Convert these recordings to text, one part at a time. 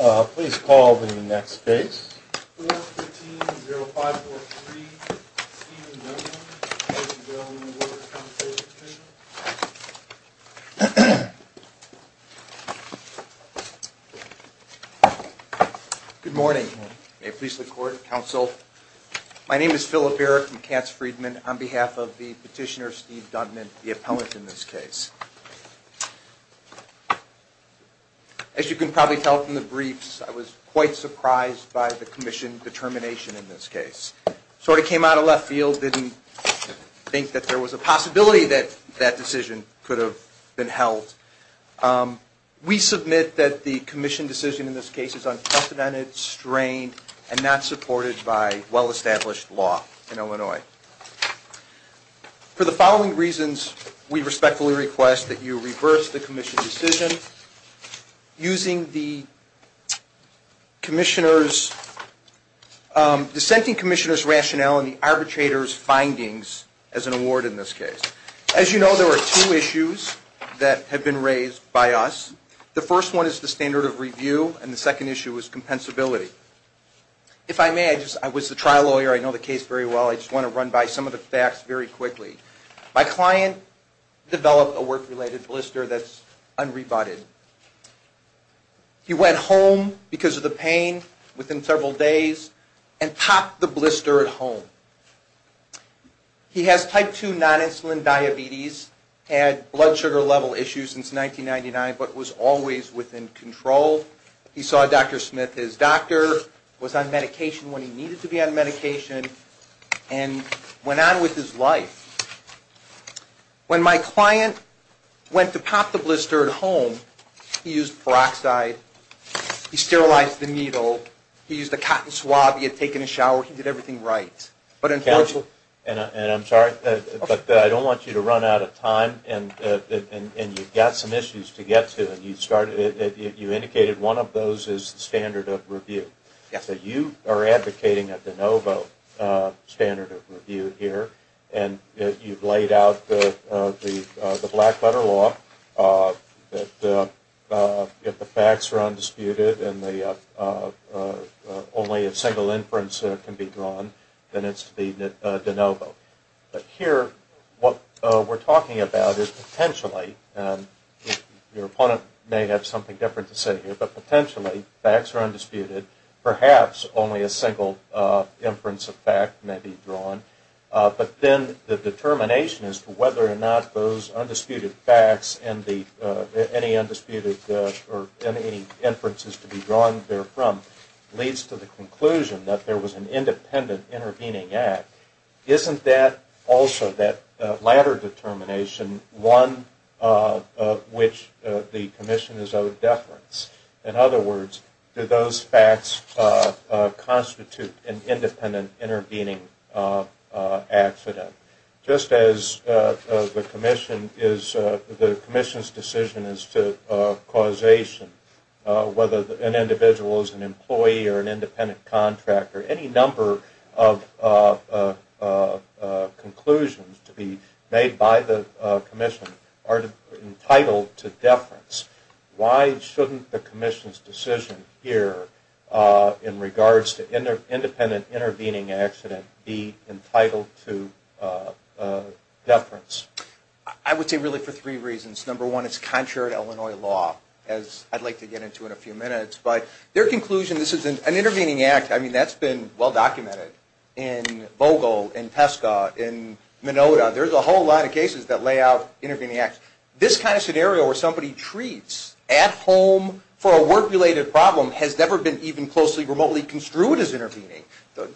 Uh, please call the next case. 4-15-0543, Steve Duntman, President of the Workers' Compensation Commission. Good morning. May it please the Court, Counsel. My name is Philip Erick from Katz Friedman, on behalf of the petitioner Steve Duntman, the appellant in this case. As you can probably tell from the briefs, I was quite surprised by the commission determination in this case. Sort of came out of left field, didn't think that there was a possibility that that decision could have been held. Um, we submit that the commission decision in this case is unprecedented, strained, and not supported by well-established law in Illinois. For the following reasons, we respectfully request that you reverse the commission decision, using the commissioner's, um, dissenting commissioner's rationale and the arbitrator's findings as an award in this case. As you know, there are two issues that have been raised by us. The first one is the standard of review, and the second issue is compensability. If I may, I was the trial lawyer, I know the case very well, I just want to run by some of the facts very quickly. My client developed a work-related blister that's unrebutted. He went home because of the pain within several days and popped the blister at home. He has type 2 non-insulin diabetes, had blood sugar level issues since 1999, but was always within control. He saw Dr. Smith, his doctor, was on medication when he needed to be on medication, and went on with his life. When my client went to pop the blister at home, he used peroxide, he sterilized the needle, he used a cotton swab, he had taken a shower, he did everything right. And I'm sorry, but I don't want you to run out of time, and you've got some issues to get to, and you indicated one of those is standard of review. Yes. So you are advocating a de novo standard of review here, and you've laid out the black-letter law, that if the facts are undisputed and only a single inference can be drawn, then it's to be de novo. But here, what we're talking about is potentially, and your opponent may have something different to say here, but potentially facts are undisputed, perhaps only a single inference of fact may be drawn, but then the determination as to whether or not those undisputed facts and any inferences to be drawn therefrom leads to the conclusion that there was an independent intervening act. Isn't that also, that latter determination, one of which the commission is of deference? In other words, do those facts constitute an independent intervening accident? Just as the commission's decision is to causation, whether an individual is an employee or an independent contractor, any number of conclusions to be made by the commission are entitled to deference. Why shouldn't the commission's decision here in regards to independent intervening accident be entitled to deference? I would say really for three reasons. Number one, it's contrary to Illinois law, as I'd like to get into in a few minutes. But their conclusion, this is an intervening act. I mean, that's been well documented in Vogel, in Tesco, in Minota. There's a whole lot of cases that lay out intervening acts. This kind of scenario where somebody treats at home for a work-related problem has never been even closely, remotely construed as intervening.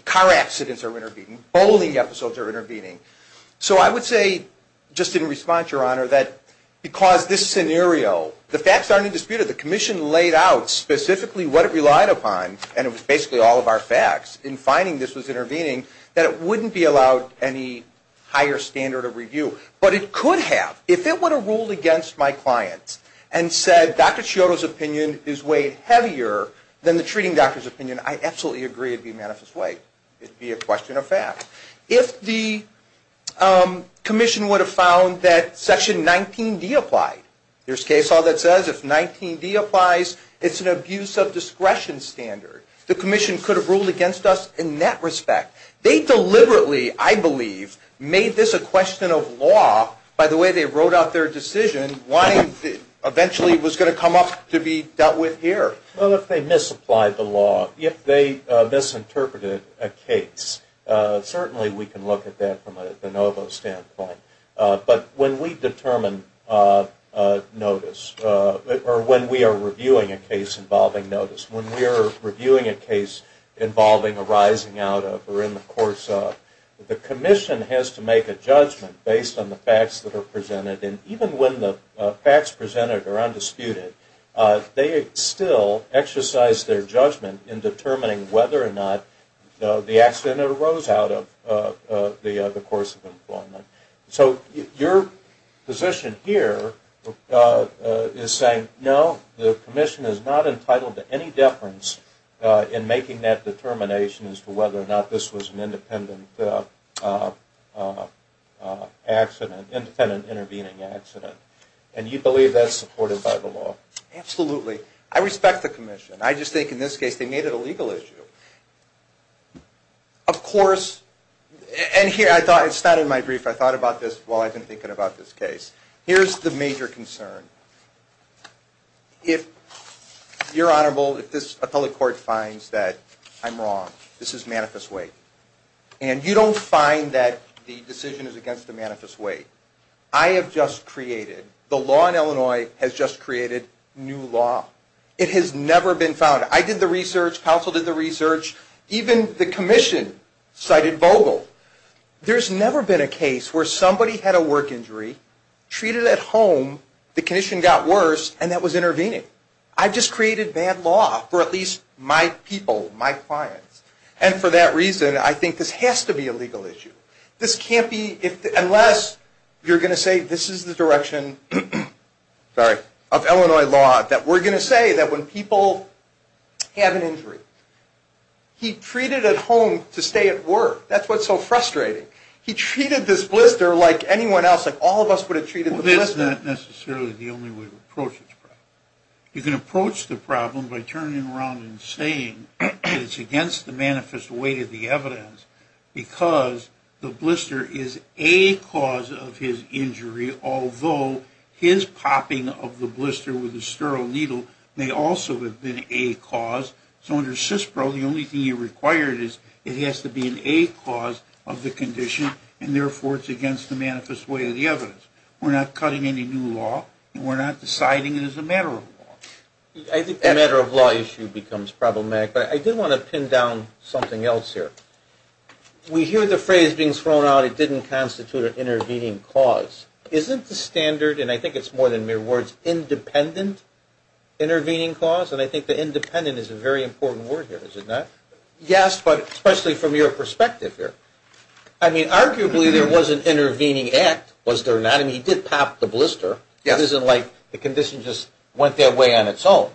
Car accidents are intervening. Bowling episodes are intervening. So I would say, just in response, Your Honor, that because this scenario, the facts aren't undisputed, the commission laid out specifically what it relied upon, and it was basically all of our facts, in finding this was intervening, that it wouldn't be allowed any higher standard of review. But it could have. If it were to rule against my clients and said Dr. Scioto's opinion is weighed heavier than the treating doctor's opinion, I absolutely agree it would be a manifest way. It would be a question of fact. If the commission would have found that Section 19D applied, there's a case law that says if 19D applies, it's an abuse of discretion standard. The commission could have ruled against us in that respect. They deliberately, I believe, made this a question of law, by the way they wrote out their decision, why it eventually was going to come up to be dealt with here. Well, if they misapplied the law, if they misinterpreted a case, certainly we can look at that from a de novo standpoint. But when we determine notice, or when we are reviewing a case involving notice, when we are reviewing a case involving a rising out of or in the course of, the commission has to make a judgment based on the facts that are presented. And even when the facts presented are undisputed, they still exercise their judgment in determining whether or not the accident arose out of the course of employment. So your position here is saying, no, the commission is not entitled to any deference in making that determination as to whether or not this was an independent intervening accident. And you believe that's supported by the law? Absolutely. I respect the commission. I just think in this case they made it a legal issue. Of course, and here I thought, it's not in my brief, I thought about this while I've been thinking about this case. Here's the major concern. If your Honorable, if this appellate court finds that I'm wrong, this is manifest weight. And you don't find that the decision is against the manifest weight. I have just created, the law in Illinois has just created new law. It has never been found. I did the research. Counsel did the research. Even the commission cited Vogel. There's never been a case where somebody had a work injury, treated it at home, the condition got worse, and that was intervening. I just created bad law for at least my people, my clients. And for that reason, I think this has to be a legal issue. This can't be, unless you're going to say this is the direction of Illinois law, that we're going to say that when people have an injury, he treated it at home to stay at work. That's what's so frustrating. He treated this blister like anyone else, like all of us would have treated the blister. Well, this is not necessarily the only way to approach this problem. You can approach the problem by turning around and saying that it's against the manifest weight of the evidence, because the blister is a cause of his injury, although his popping of the blister with a sterile needle may also have been a cause. So under CISPRO, the only thing you're required is it has to be a cause of the condition, and therefore it's against the manifest weight of the evidence. We're not cutting any new law, and we're not deciding it as a matter of law. I think the matter of law issue becomes problematic, but I did want to pin down something else here. We hear the phrase being thrown out, it didn't constitute an intervening cause. Isn't the standard, and I think it's more than mere words, independent intervening cause? And I think the independent is a very important word here, is it not? Yes, but especially from your perspective here. I mean, arguably there was an intervening act, was there not? I mean, he did pop the blister. It isn't like the condition just went their way on its own.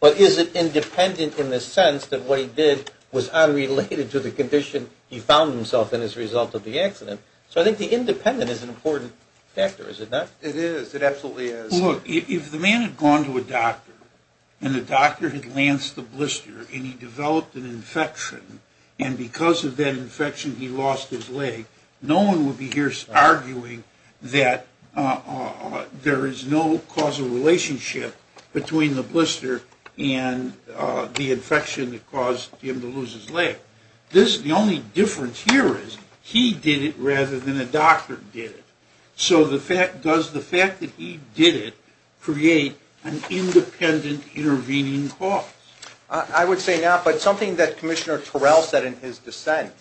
But is it independent in the sense that what he did was unrelated to the condition he found himself in as a result of the accident? So I think the independent is an important factor, is it not? It is, it absolutely is. Look, if the man had gone to a doctor, and the doctor had lanced the blister and he developed an infection, and because of that infection he lost his leg, no one would be here arguing that there is no causal relationship between The only difference here is he did it rather than a doctor did it. So does the fact that he did it create an independent intervening cause? I would say not. But something that Commissioner Terrell said in his dissent,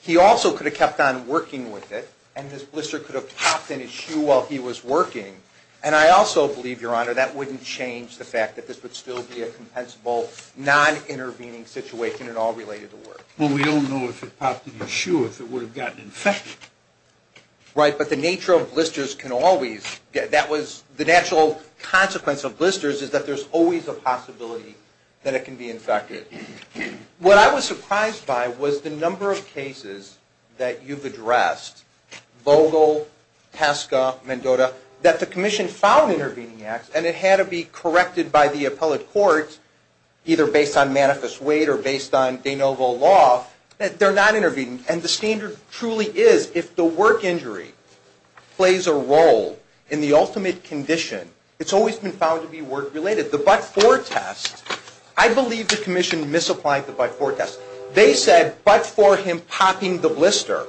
he also could have kept on working with it, and this blister could have popped in his shoe while he was working. And I also believe, Your Honor, that wouldn't change the fact that this would still be a compensable non-intervening situation at all related to work. Well, we don't know if it popped in his shoe, if it would have gotten infected. Right, but the nature of blisters can always get, that was the natural consequence of blisters is that there's always a possibility that it can be infected. What I was surprised by was the number of cases that you've addressed, Vogel, Pesca, Mendota, that the commission found intervening acts, and it had to be corrected by the appellate court, either based on manifest weight or based on de novo law, that they're not intervening. And the standard truly is if the work injury plays a role in the ultimate condition, it's always been found to be work-related. The but-for test, I believe the commission misapplied the but-for test. They said but for him popping the blister,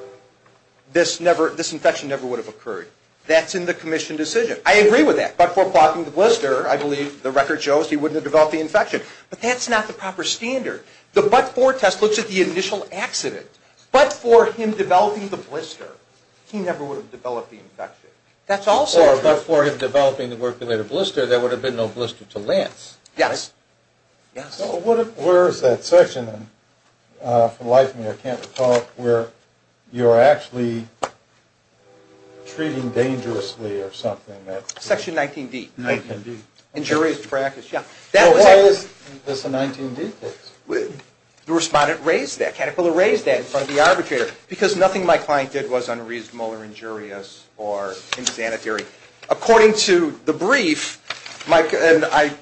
this infection never would have occurred. That's in the commission decision. I agree with that. But for popping the blister, I believe the record shows, he wouldn't have developed the infection. But that's not the proper standard. The but-for test looks at the initial accident. But for him developing the blister, he never would have developed the infection. That's also true. But for him developing the work-related blister, there would have been no blister to lance. Yes. Yes. So where is that section, and for the life of me, I can't recall where you're actually treating dangerously or something. Section 19D. 19D. Injurious practice, yeah. Why is this a 19D case? The respondent raised that. Caterpillar raised that in front of the arbitrator. Because nothing my client did was unreasonable or injurious or insanitary. According to the brief, and I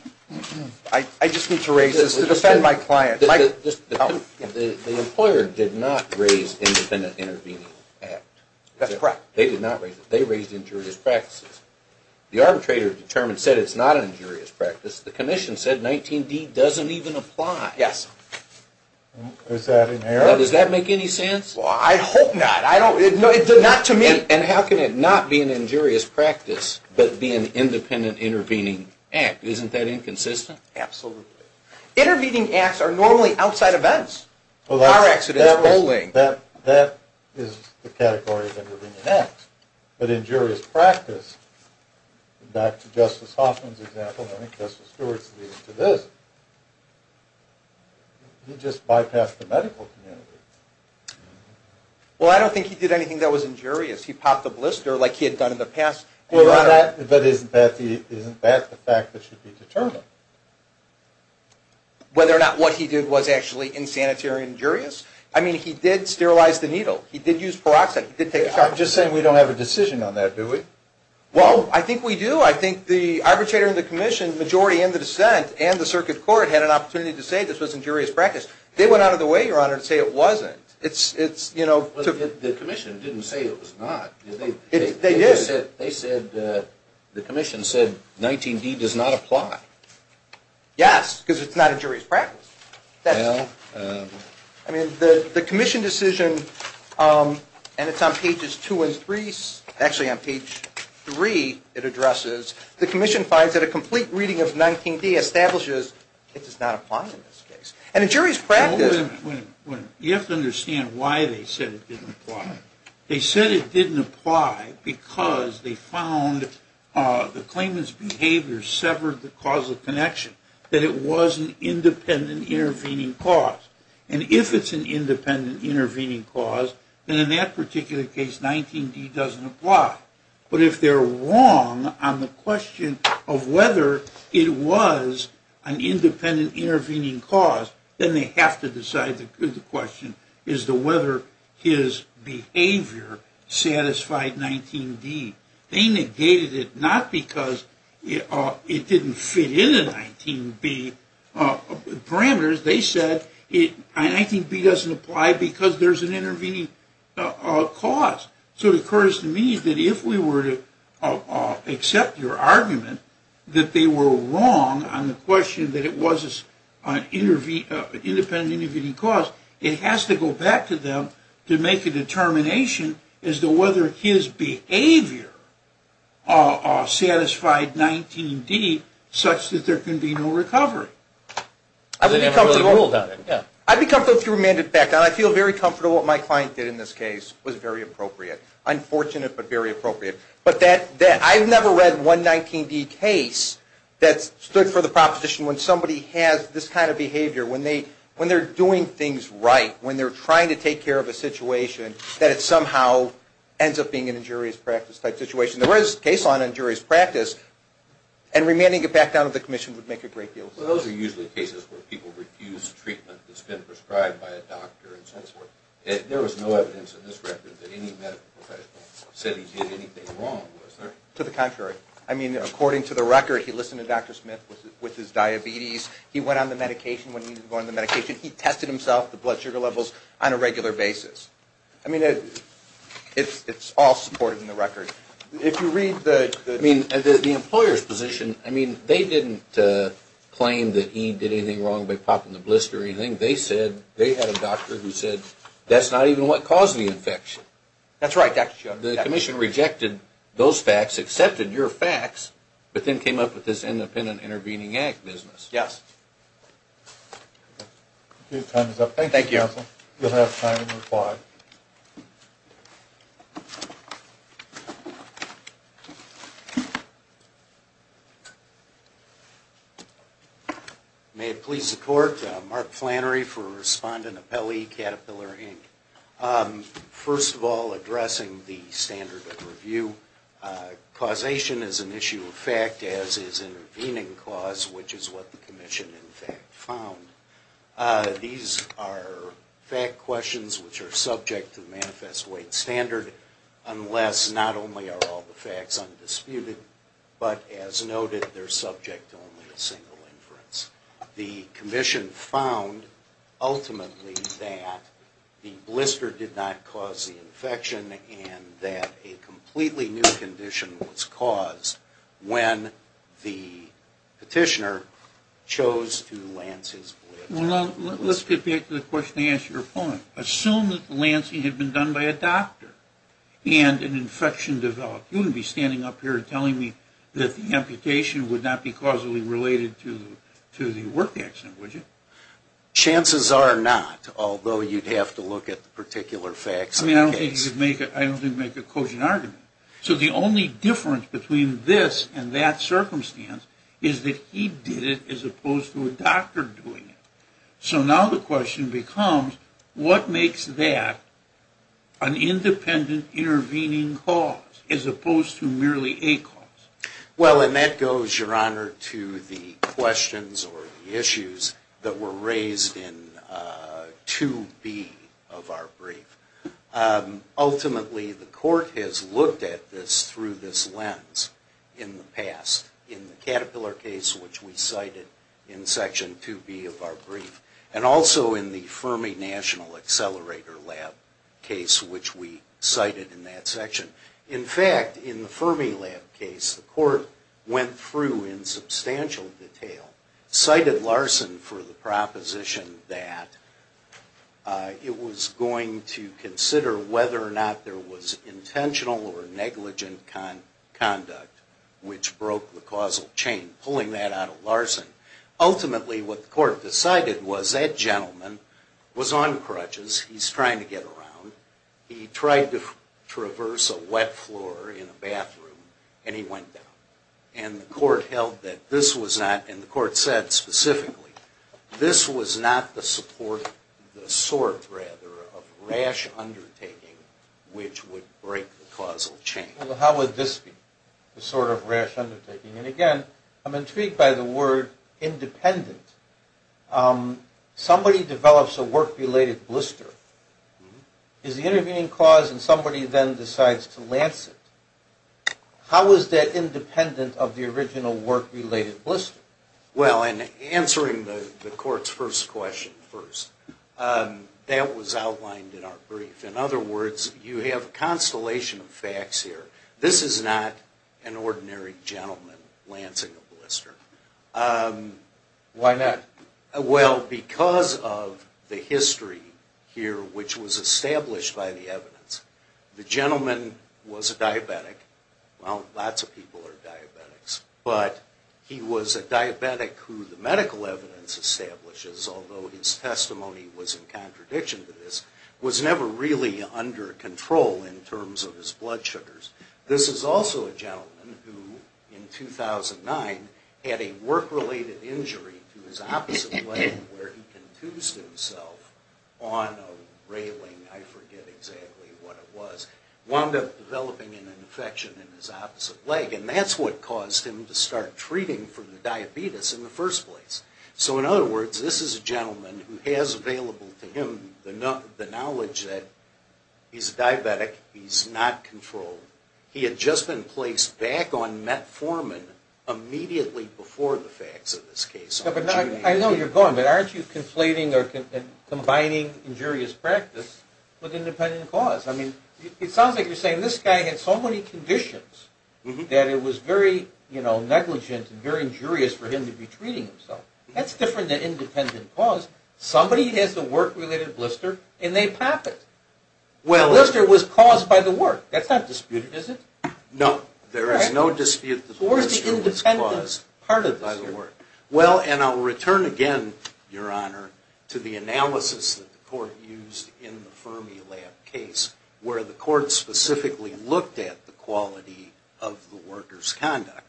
just need to raise this to defend my client. The employer did not raise independent intervening act. That's correct. They did not raise it. They raised injurious practices. The arbitrator determined, said it's not injurious practice. The commission said 19D doesn't even apply. Yes. Does that make any sense? Well, I hope not. It did not to me. And how can it not be an injurious practice but be an independent intervening act? Isn't that inconsistent? Absolutely. Intervening acts are normally outside events. Car accidents, rolling. That is the category of intervening act. But injurious practice, back to Justice Hoffman's example, and I think Justice Stewart's leading to this. He just bypassed the medical community. Well, I don't think he did anything that was injurious. He popped the blister like he had done in the past. But isn't that the fact that should be determined? Whether or not what he did was actually insanitary and injurious? I mean, he did sterilize the needle. He did use peroxide. I'm just saying we don't have a decision on that, do we? Well, I think we do. I think the arbitrator and the commission, majority in the dissent, and the circuit court had an opportunity to say this was injurious practice. They went out of their way, Your Honor, to say it wasn't. The commission didn't say it was not. They did. They said the commission said 19D does not apply. Yes, because it's not injurious practice. Well. I mean, the commission decision, and it's on pages 2 and 3, actually on page 3 it addresses, the commission finds that a complete reading of 19D establishes it does not apply in this case. And injurious practice. You have to understand why they said it didn't apply. They said it didn't apply because they found the claimant's behavior severed the causal connection, that it was an independent intervening cause. And if it's an independent intervening cause, then in that particular case 19D doesn't apply. But if they're wrong on the question of whether it was an independent intervening cause, then they have to decide the question as to whether his behavior satisfied 19D. They negated it not because it didn't fit in the 19B parameters. They said 19B doesn't apply because there's an intervening cause. So it occurs to me that if we were to accept your argument that they were wrong on the question that it was an independent intervening cause, it has to go back to them to make a determination as to whether his behavior satisfied 19D such that there can be no recovery. I'd be comfortable if you remanded it back. I feel very comfortable what my client did in this case was very appropriate. Unfortunate but very appropriate. I've never read one 19B case that stood for the proposition when somebody has this kind of behavior, when they're doing things right, when they're trying to take care of a situation, that it somehow ends up being an injurious practice type situation. There was a case on injurious practice and remanding it back down to the commission would make a great deal of sense. Those are usually cases where people refuse treatment that's been prescribed by a doctor and so forth. There was no evidence in this record that any medical professional said he did anything wrong, was there? To the contrary. I mean, according to the record, he listened to Dr. Smith with his diabetes. He went on the medication when he needed to go on the medication. He tested himself, the blood sugar levels, on a regular basis. I mean, it's all supported in the record. If you read the employer's position, I mean, they didn't claim that he did anything wrong by popping the blister or anything. They said they had a doctor who said that's not even what caused the infection. That's right, Dr. Chuck. The commission rejected those facts, accepted your facts, but then came up with this independent intervening act business. Yes. Okay, time is up. You'll have time to reply. May it please the court, Mark Flannery for Respondent Appellee, Caterpillar, Inc. First of all, addressing the standard of review, causation is an issue of fact, as is intervening cause, which is what the commission in fact found. These are fact questions which are subject to the Manifest Weight Standard, unless not only are all the facts undisputed, but as noted, they're subject to only a single inference. The commission found ultimately that the blister did not cause the infection and that a completely new condition was caused when the petitioner chose to lance his blister. Well, let's get back to the question I asked your opponent. Assume that the lancing had been done by a doctor and an infection developed. You wouldn't be standing up here telling me that the amputation would not be causally related to the work accident, would you? Chances are not, although you'd have to look at the particular facts of the case. I mean, I don't think you'd make a cogent argument. So the only difference between this and that circumstance is that he did it as opposed to a doctor doing it. So now the question becomes, what makes that an independent intervening cause as opposed to merely a cause? Well, and that goes, Your Honor, to the questions or the issues that were raised in 2B of our brief. Ultimately, the court has looked at this through this lens in the past. In the Caterpillar case, which we cited in Section 2B of our brief, and also in the Fermi National Accelerator Lab case, which we cited in that section. In fact, in the Fermi Lab case, the court went through in substantial detail, cited Larson for the proposition that it was going to consider whether or not there was intentional or negligent conduct which broke the causal chain, pulling that out of Larson. Ultimately, what the court decided was that gentleman was on crutches. He's trying to get around. He tried to traverse a wet floor in a bathroom, and he went down. And the court held that this was not, and the court said specifically, this was not the support, the sort, rather, of rash undertaking which would break the causal chain. Well, how would this be, the sort of rash undertaking? And again, I'm intrigued by the word independent. Somebody develops a work-related blister. It's the intervening cause, and somebody then decides to lance it. How is that independent of the original work-related blister? Well, in answering the court's first question first, that was outlined in our brief. In other words, you have a constellation of facts here. This is not an ordinary gentleman lancing a blister. Why not? Well, because of the history here which was established by the evidence. The gentleman was a diabetic. Well, lots of people are diabetics. But he was a diabetic who the medical evidence establishes, although his testimony was in contradiction to this, was never really under control in terms of his blood sugars. This is also a gentleman who, in 2009, had a work-related injury to his opposite leg where he contused himself on a railing. I forget exactly what it was. Wound up developing an infection in his opposite leg, and that's what caused him to start treating for the diabetes in the first place. So, in other words, this is a gentleman who has available to him the knowledge that he's a diabetic. He's not controlled. He had just been placed back on metformin immediately before the facts of this case. I know where you're going, but aren't you conflating or combining injurious practice with independent cause? It sounds like you're saying this guy had so many conditions that it was very negligent and very injurious for him to be treating himself. That's different than independent cause. Somebody has a work-related blister, and they pop it. The blister was caused by the work. That's not disputed, is it? No, there is no dispute that the blister was caused by the work. Well, and I'll return again, Your Honor, to the analysis that the court used in the Fermilab case, where the court specifically looked at the quality of the worker's conduct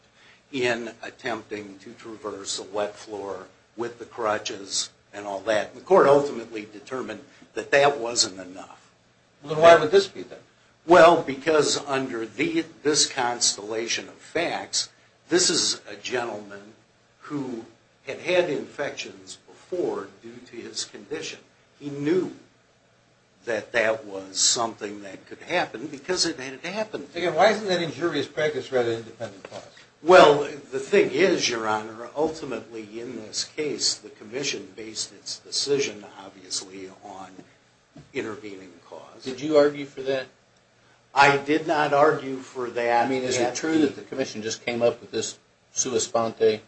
in attempting to traverse a wet floor with the crutches and all that. The court ultimately determined that that wasn't enough. Then why would this be there? Well, because under this constellation of facts, this is a gentleman who had had infections before due to his condition. He knew that that was something that could happen because it had happened. Why isn't that injurious practice rather independent cause? Well, the thing is, Your Honor, ultimately in this case, the commission based its decision, obviously, on intervening cause. Did you argue for that? I did not argue for that. I mean, is it true that the commission just came up with this sua sponte?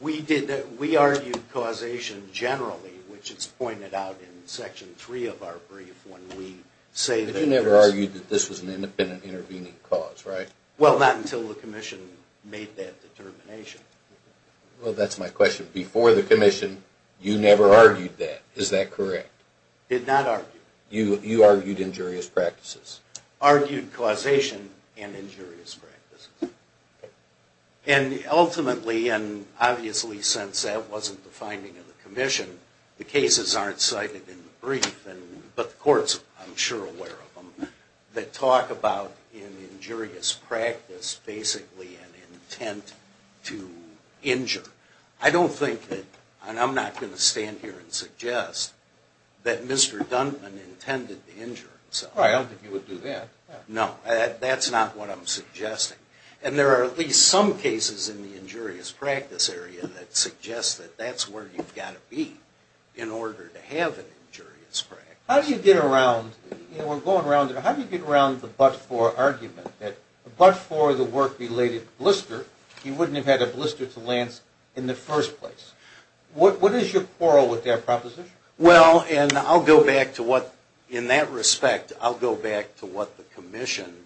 We argued causation generally, which is pointed out in Section 3 of our brief when we say that there is... But you never argued that this was an independent intervening cause, right? Well, not until the commission made that determination. Well, that's my question. Before the commission, you never argued that. Is that correct? Did not argue. You argued injurious practices. Argued causation and injurious practices. And ultimately, and obviously since that wasn't the finding of the commission, the cases aren't cited in the brief, but the courts I'm sure are aware of them, that talk about an injurious practice basically an intent to injure. I don't think that, and I'm not going to stand here and suggest that Mr. Duntman intended to injure himself. Well, I don't think he would do that. No, that's not what I'm suggesting. And there are at least some cases in the injurious practice area that suggest that that's where you've got to be in order to have an injurious practice. How do you get around, you know, we're going around, how do you get around the but-for argument that a but-for the work-related blister, you wouldn't have had a blister to Lance in the first place? What is your quarrel with that proposition? Well, and I'll go back to what, in that respect, I'll go back to what the commission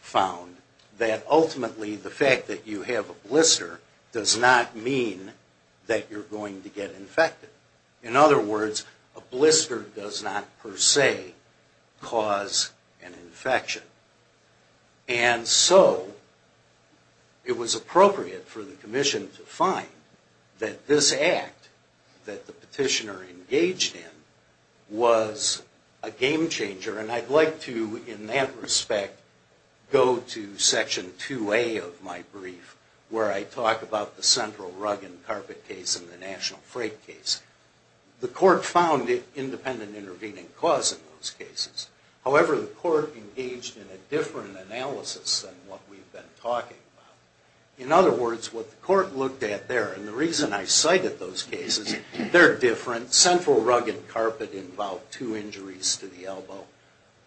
found, that ultimately the fact that you have a blister does not mean that you're going to get infected. In other words, a blister does not per se cause an infection. And so it was appropriate for the commission to find that this act that the petitioner engaged in was a game changer. And I'd like to, in that respect, go to Section 2A of my brief, where I talk about the central rug and carpet case and the national freight case. The court found independent intervening cause in those cases. However, the court engaged in a different analysis than what we've been talking about. In other words, what the court looked at there, and the reason I cited those cases, they're different. Central rug and carpet involved two injuries to the elbow.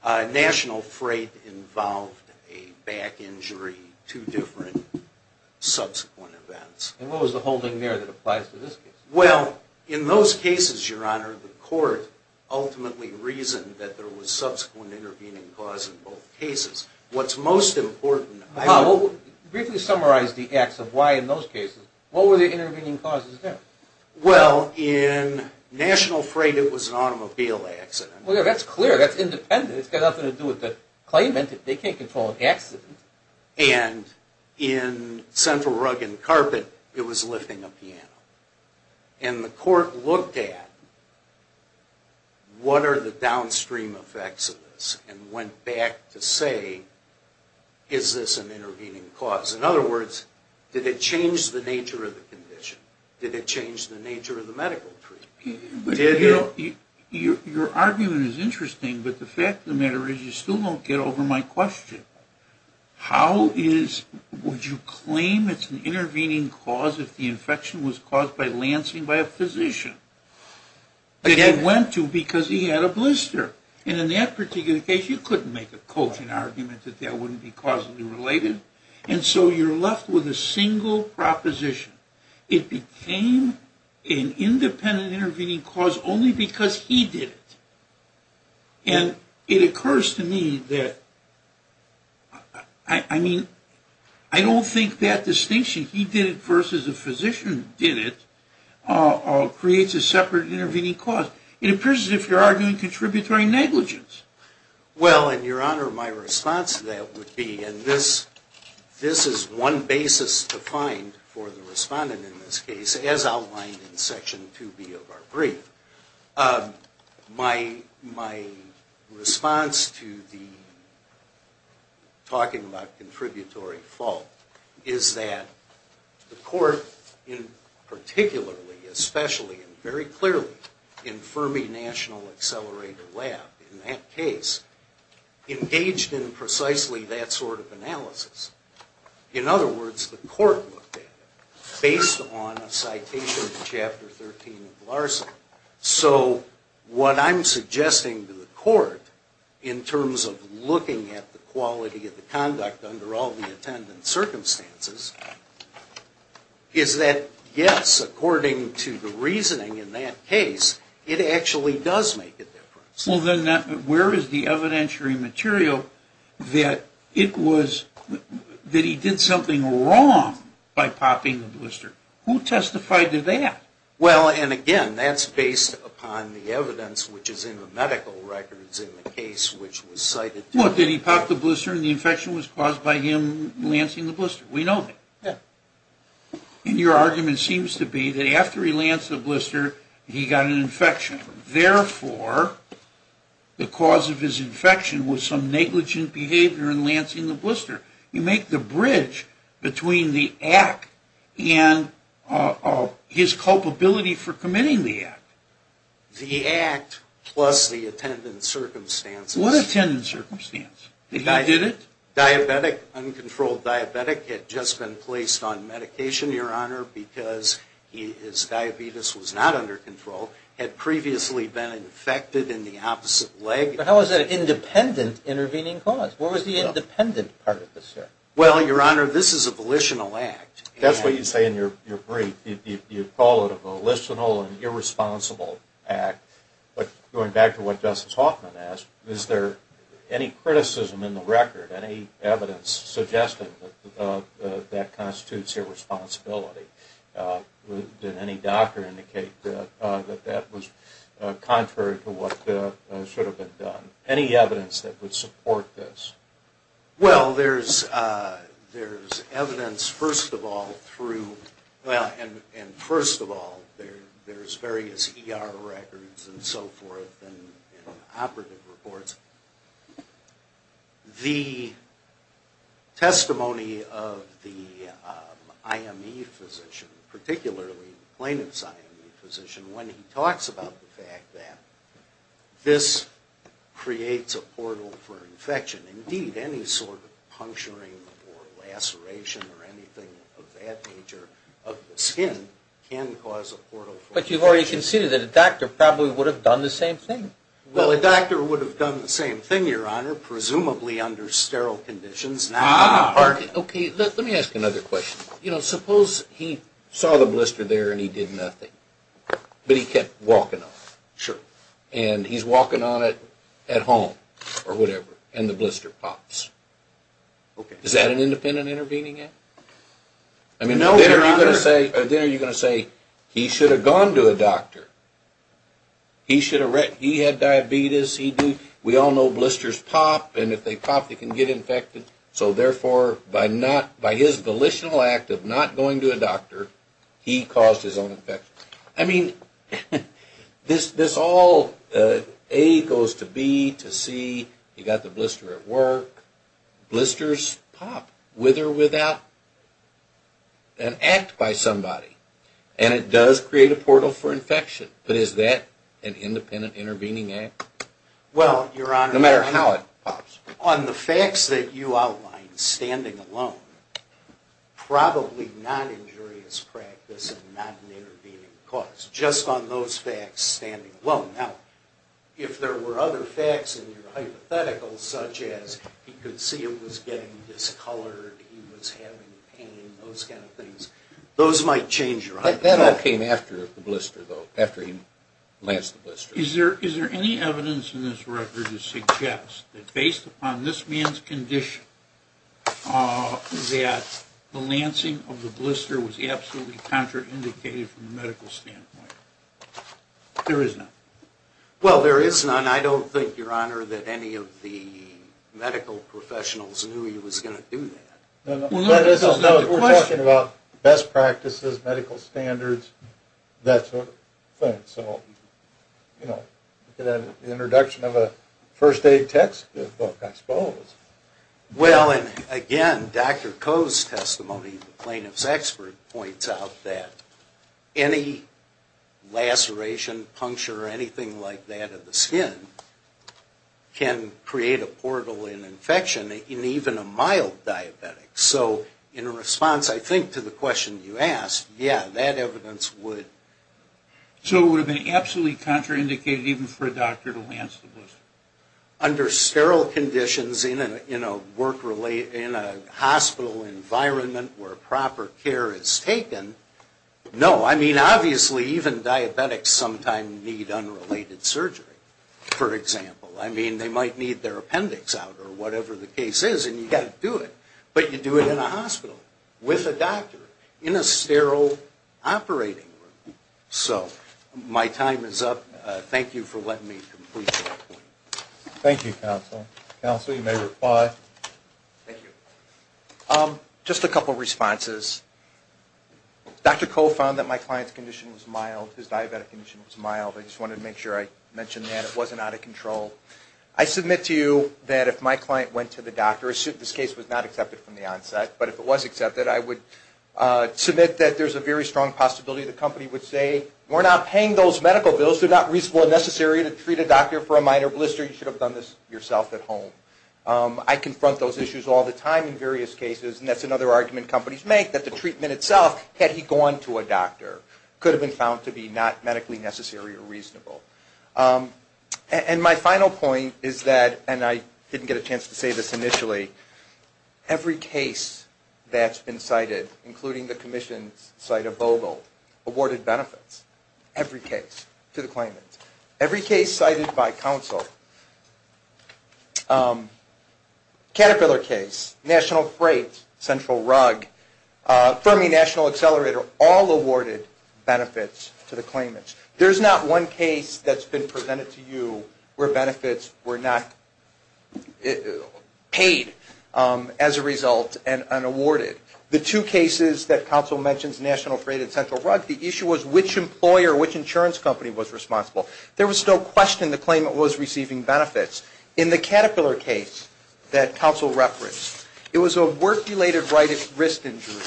National freight involved a back injury, two different subsequent events. And what was the holding there that applies to this case? Well, in those cases, Your Honor, the court ultimately reasoned that there was subsequent intervening cause in both cases. What's most important... Briefly summarize the acts of why in those cases, what were the intervening causes there? Well, in national freight, it was an automobile accident. Well, that's clear. That's independent. It's got nothing to do with the claimant. They can't control an accident. And in central rug and carpet, it was lifting a piano. And the court looked at what are the downstream effects of this and went back to say, is this an intervening cause? In other words, did it change the nature of the condition? Did it change the nature of the medical treatment? Your argument is interesting, but the fact of the matter is you still don't get over my question. How would you claim it's an intervening cause if the infection was caused by Lansing by a physician? That he went to because he had a blister. And in that particular case, you couldn't make a coaching argument that that wouldn't be causally related. And so you're left with a single proposition. It became an independent intervening cause only because he did it. And it occurs to me that, I mean, I don't think that distinction, he did it versus the physician did it, creates a separate intervening cause. It appears as if you're arguing contributory negligence. Well, in your honor, my response to that would be, and this is one basis to find for the respondent in this case, as outlined in section 2B of our brief. My response to the talking about contributory fault is that the court, particularly, especially, and very clearly in Fermi National Accelerator Lab in that case, engaged in precisely that sort of analysis. In other words, the court looked at it based on a citation to chapter 13 of Larson. So what I'm suggesting to the court in terms of looking at the quality of the conduct under all the attendant circumstances is that, yes, according to the reasoning in that case, it actually does make a difference. Well, then, where is the evidentiary material that it was, that he did something wrong by popping the blister? Who testified to that? Well, and again, that's based upon the evidence which is in the medical records in the case which was cited. Well, did he pop the blister and the infection was caused by him lancing the blister? We know that. And your argument seems to be that after he lanced the blister, he got an infection. Therefore, the cause of his infection was some negligent behavior in lancing the blister. You make the bridge between the act and his culpability for committing the act. The act plus the attendant circumstances. What attendant circumstance? He did it? Diabetic, uncontrolled diabetic had just been placed on medication, Your Honor, because his diabetes was not under control. Had previously been infected in the opposite leg. But how is that an independent intervening cause? What was the independent part of this, sir? Well, Your Honor, this is a volitional act. That's what you say in your brief. You call it a volitional and irresponsible act. But going back to what Justice Hoffman asked, is there any criticism in the record, any evidence suggesting that constitutes irresponsibility? Did any doctor indicate that that was contrary to what should have been done? Any evidence that would support this? Well, there's evidence, first of all, and first of all, there's various ER records and so forth and operative reports. The testimony of the IME physician, particularly plaintiff's IME physician, when he talks about the fact that this creates a portal for infection. Indeed, any sort of puncturing or laceration or anything of that nature of the skin can cause a portal for infection. But you've already conceded that a doctor probably would have done the same thing. Well, a doctor would have done the same thing, Your Honor, presumably under sterile conditions. Okay, let me ask another question. You know, suppose he saw the blister there and he did nothing, but he kept walking on it. Sure. And he's walking on it at home or whatever, and the blister pops. Okay. Is that an independent intervening act? No, Your Honor. Then are you going to say, he should have gone to a doctor? He had diabetes, we all know blisters pop, and if they pop they can get infected. So therefore, by his volitional act of not going to a doctor, he caused his own infection. I mean, this all, A goes to B to C, you've got the blister at work. Blisters pop with or without an act by somebody, and it does create a portal for infection. But is that an independent intervening act? Well, Your Honor. No matter how it pops. On the facts that you outlined, standing alone, probably not injurious practice and not an intervening cause. Just on those facts, standing alone. Now, if there were other facts in your hypothetical, such as he could see it was getting discolored, he was having pain, those kind of things, those might change your hypothetical. That all came after the blister, though, after he lanced the blister. Is there any evidence in this record to suggest that based upon this man's condition, that the lancing of the blister was absolutely contraindicated from a medical standpoint? There is none. Well, there is none. I don't think, Your Honor, that any of the medical professionals knew he was going to do that. We're talking about best practices, medical standards, that sort of thing. So, you know, the introduction of a first aid textbook, I suppose. Well, and again, Dr. Koh's testimony, the plaintiff's expert, points out that any laceration, puncture, or anything like that of the skin can create a portal in infection in even a mild diabetic. So in response, I think, to the question you asked, yeah, that evidence would. So it would have been absolutely contraindicated even for a doctor to lance the blister? Under sterile conditions in a hospital environment where proper care is taken, no. I mean, obviously, even diabetics sometimes need unrelated surgery, for example. I mean, they might need their appendix out or whatever the case is, and you've got to do it. But you do it in a hospital with a doctor in a sterile operating room. So my time is up. Thank you for letting me complete my point. Thank you, counsel. Counsel, you may reply. Thank you. Just a couple of responses. Dr. Koh found that my client's condition was mild. His diabetic condition was mild. I just wanted to make sure I mentioned that. It wasn't out of control. I submit to you that if my client went to the doctor, assuming this case was not accepted from the onset, but if it was accepted, I would submit that there's a very strong possibility the company would say, we're not paying those medical bills. They're not reasonable or necessary to treat a doctor for a minor blister. You should have done this yourself at home. I confront those issues all the time in various cases, and that's another argument companies make, that the treatment itself, had he gone to a doctor, could have been found to be not medically necessary or reasonable. And my final point is that, and I didn't get a chance to say this initially, every case that's been cited, including the commission's cite of Vogel, awarded benefits. Every case to the claimant. Every case cited by counsel. Caterpillar case, National Freight, Central Rug, Fermi National Accelerator, all awarded benefits to the claimants. There's not one case that's been presented to you where benefits were not paid as a result and awarded. The two cases that counsel mentions, National Freight and Central Rug, the issue was which employer, which insurance company was responsible. There was no question the claimant was receiving benefits. In the Caterpillar case that counsel referenced, it was a work-related wrist injury,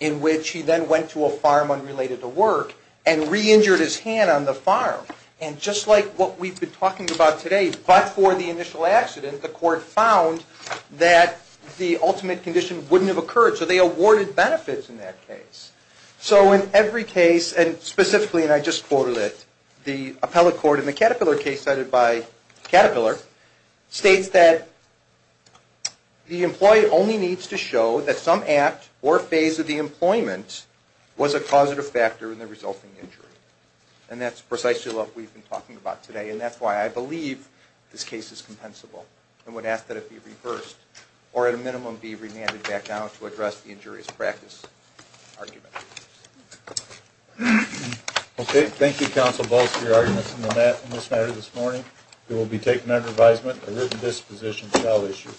in which he then went to a farm unrelated to work and re-injured his hand on the farm. And just like what we've been talking about today, but for the initial accident, the court found that the ultimate condition wouldn't have occurred. So they awarded benefits in that case. So in every case, and specifically, and I just quoted it, the appellate court in the Caterpillar case cited by Caterpillar states that the employee only needs to show that some act or phase of the employment was a causative factor in the resulting injury. And that's precisely what we've been talking about today. And that's why I believe this case is compensable. And would ask that it be reversed, or at a minimum, be remanded back down to address the injurious practice argument. Okay. Thank you, Counsel Balls, for your arguments in this matter this morning. It will be taken under advisement, a written disposition shall issue.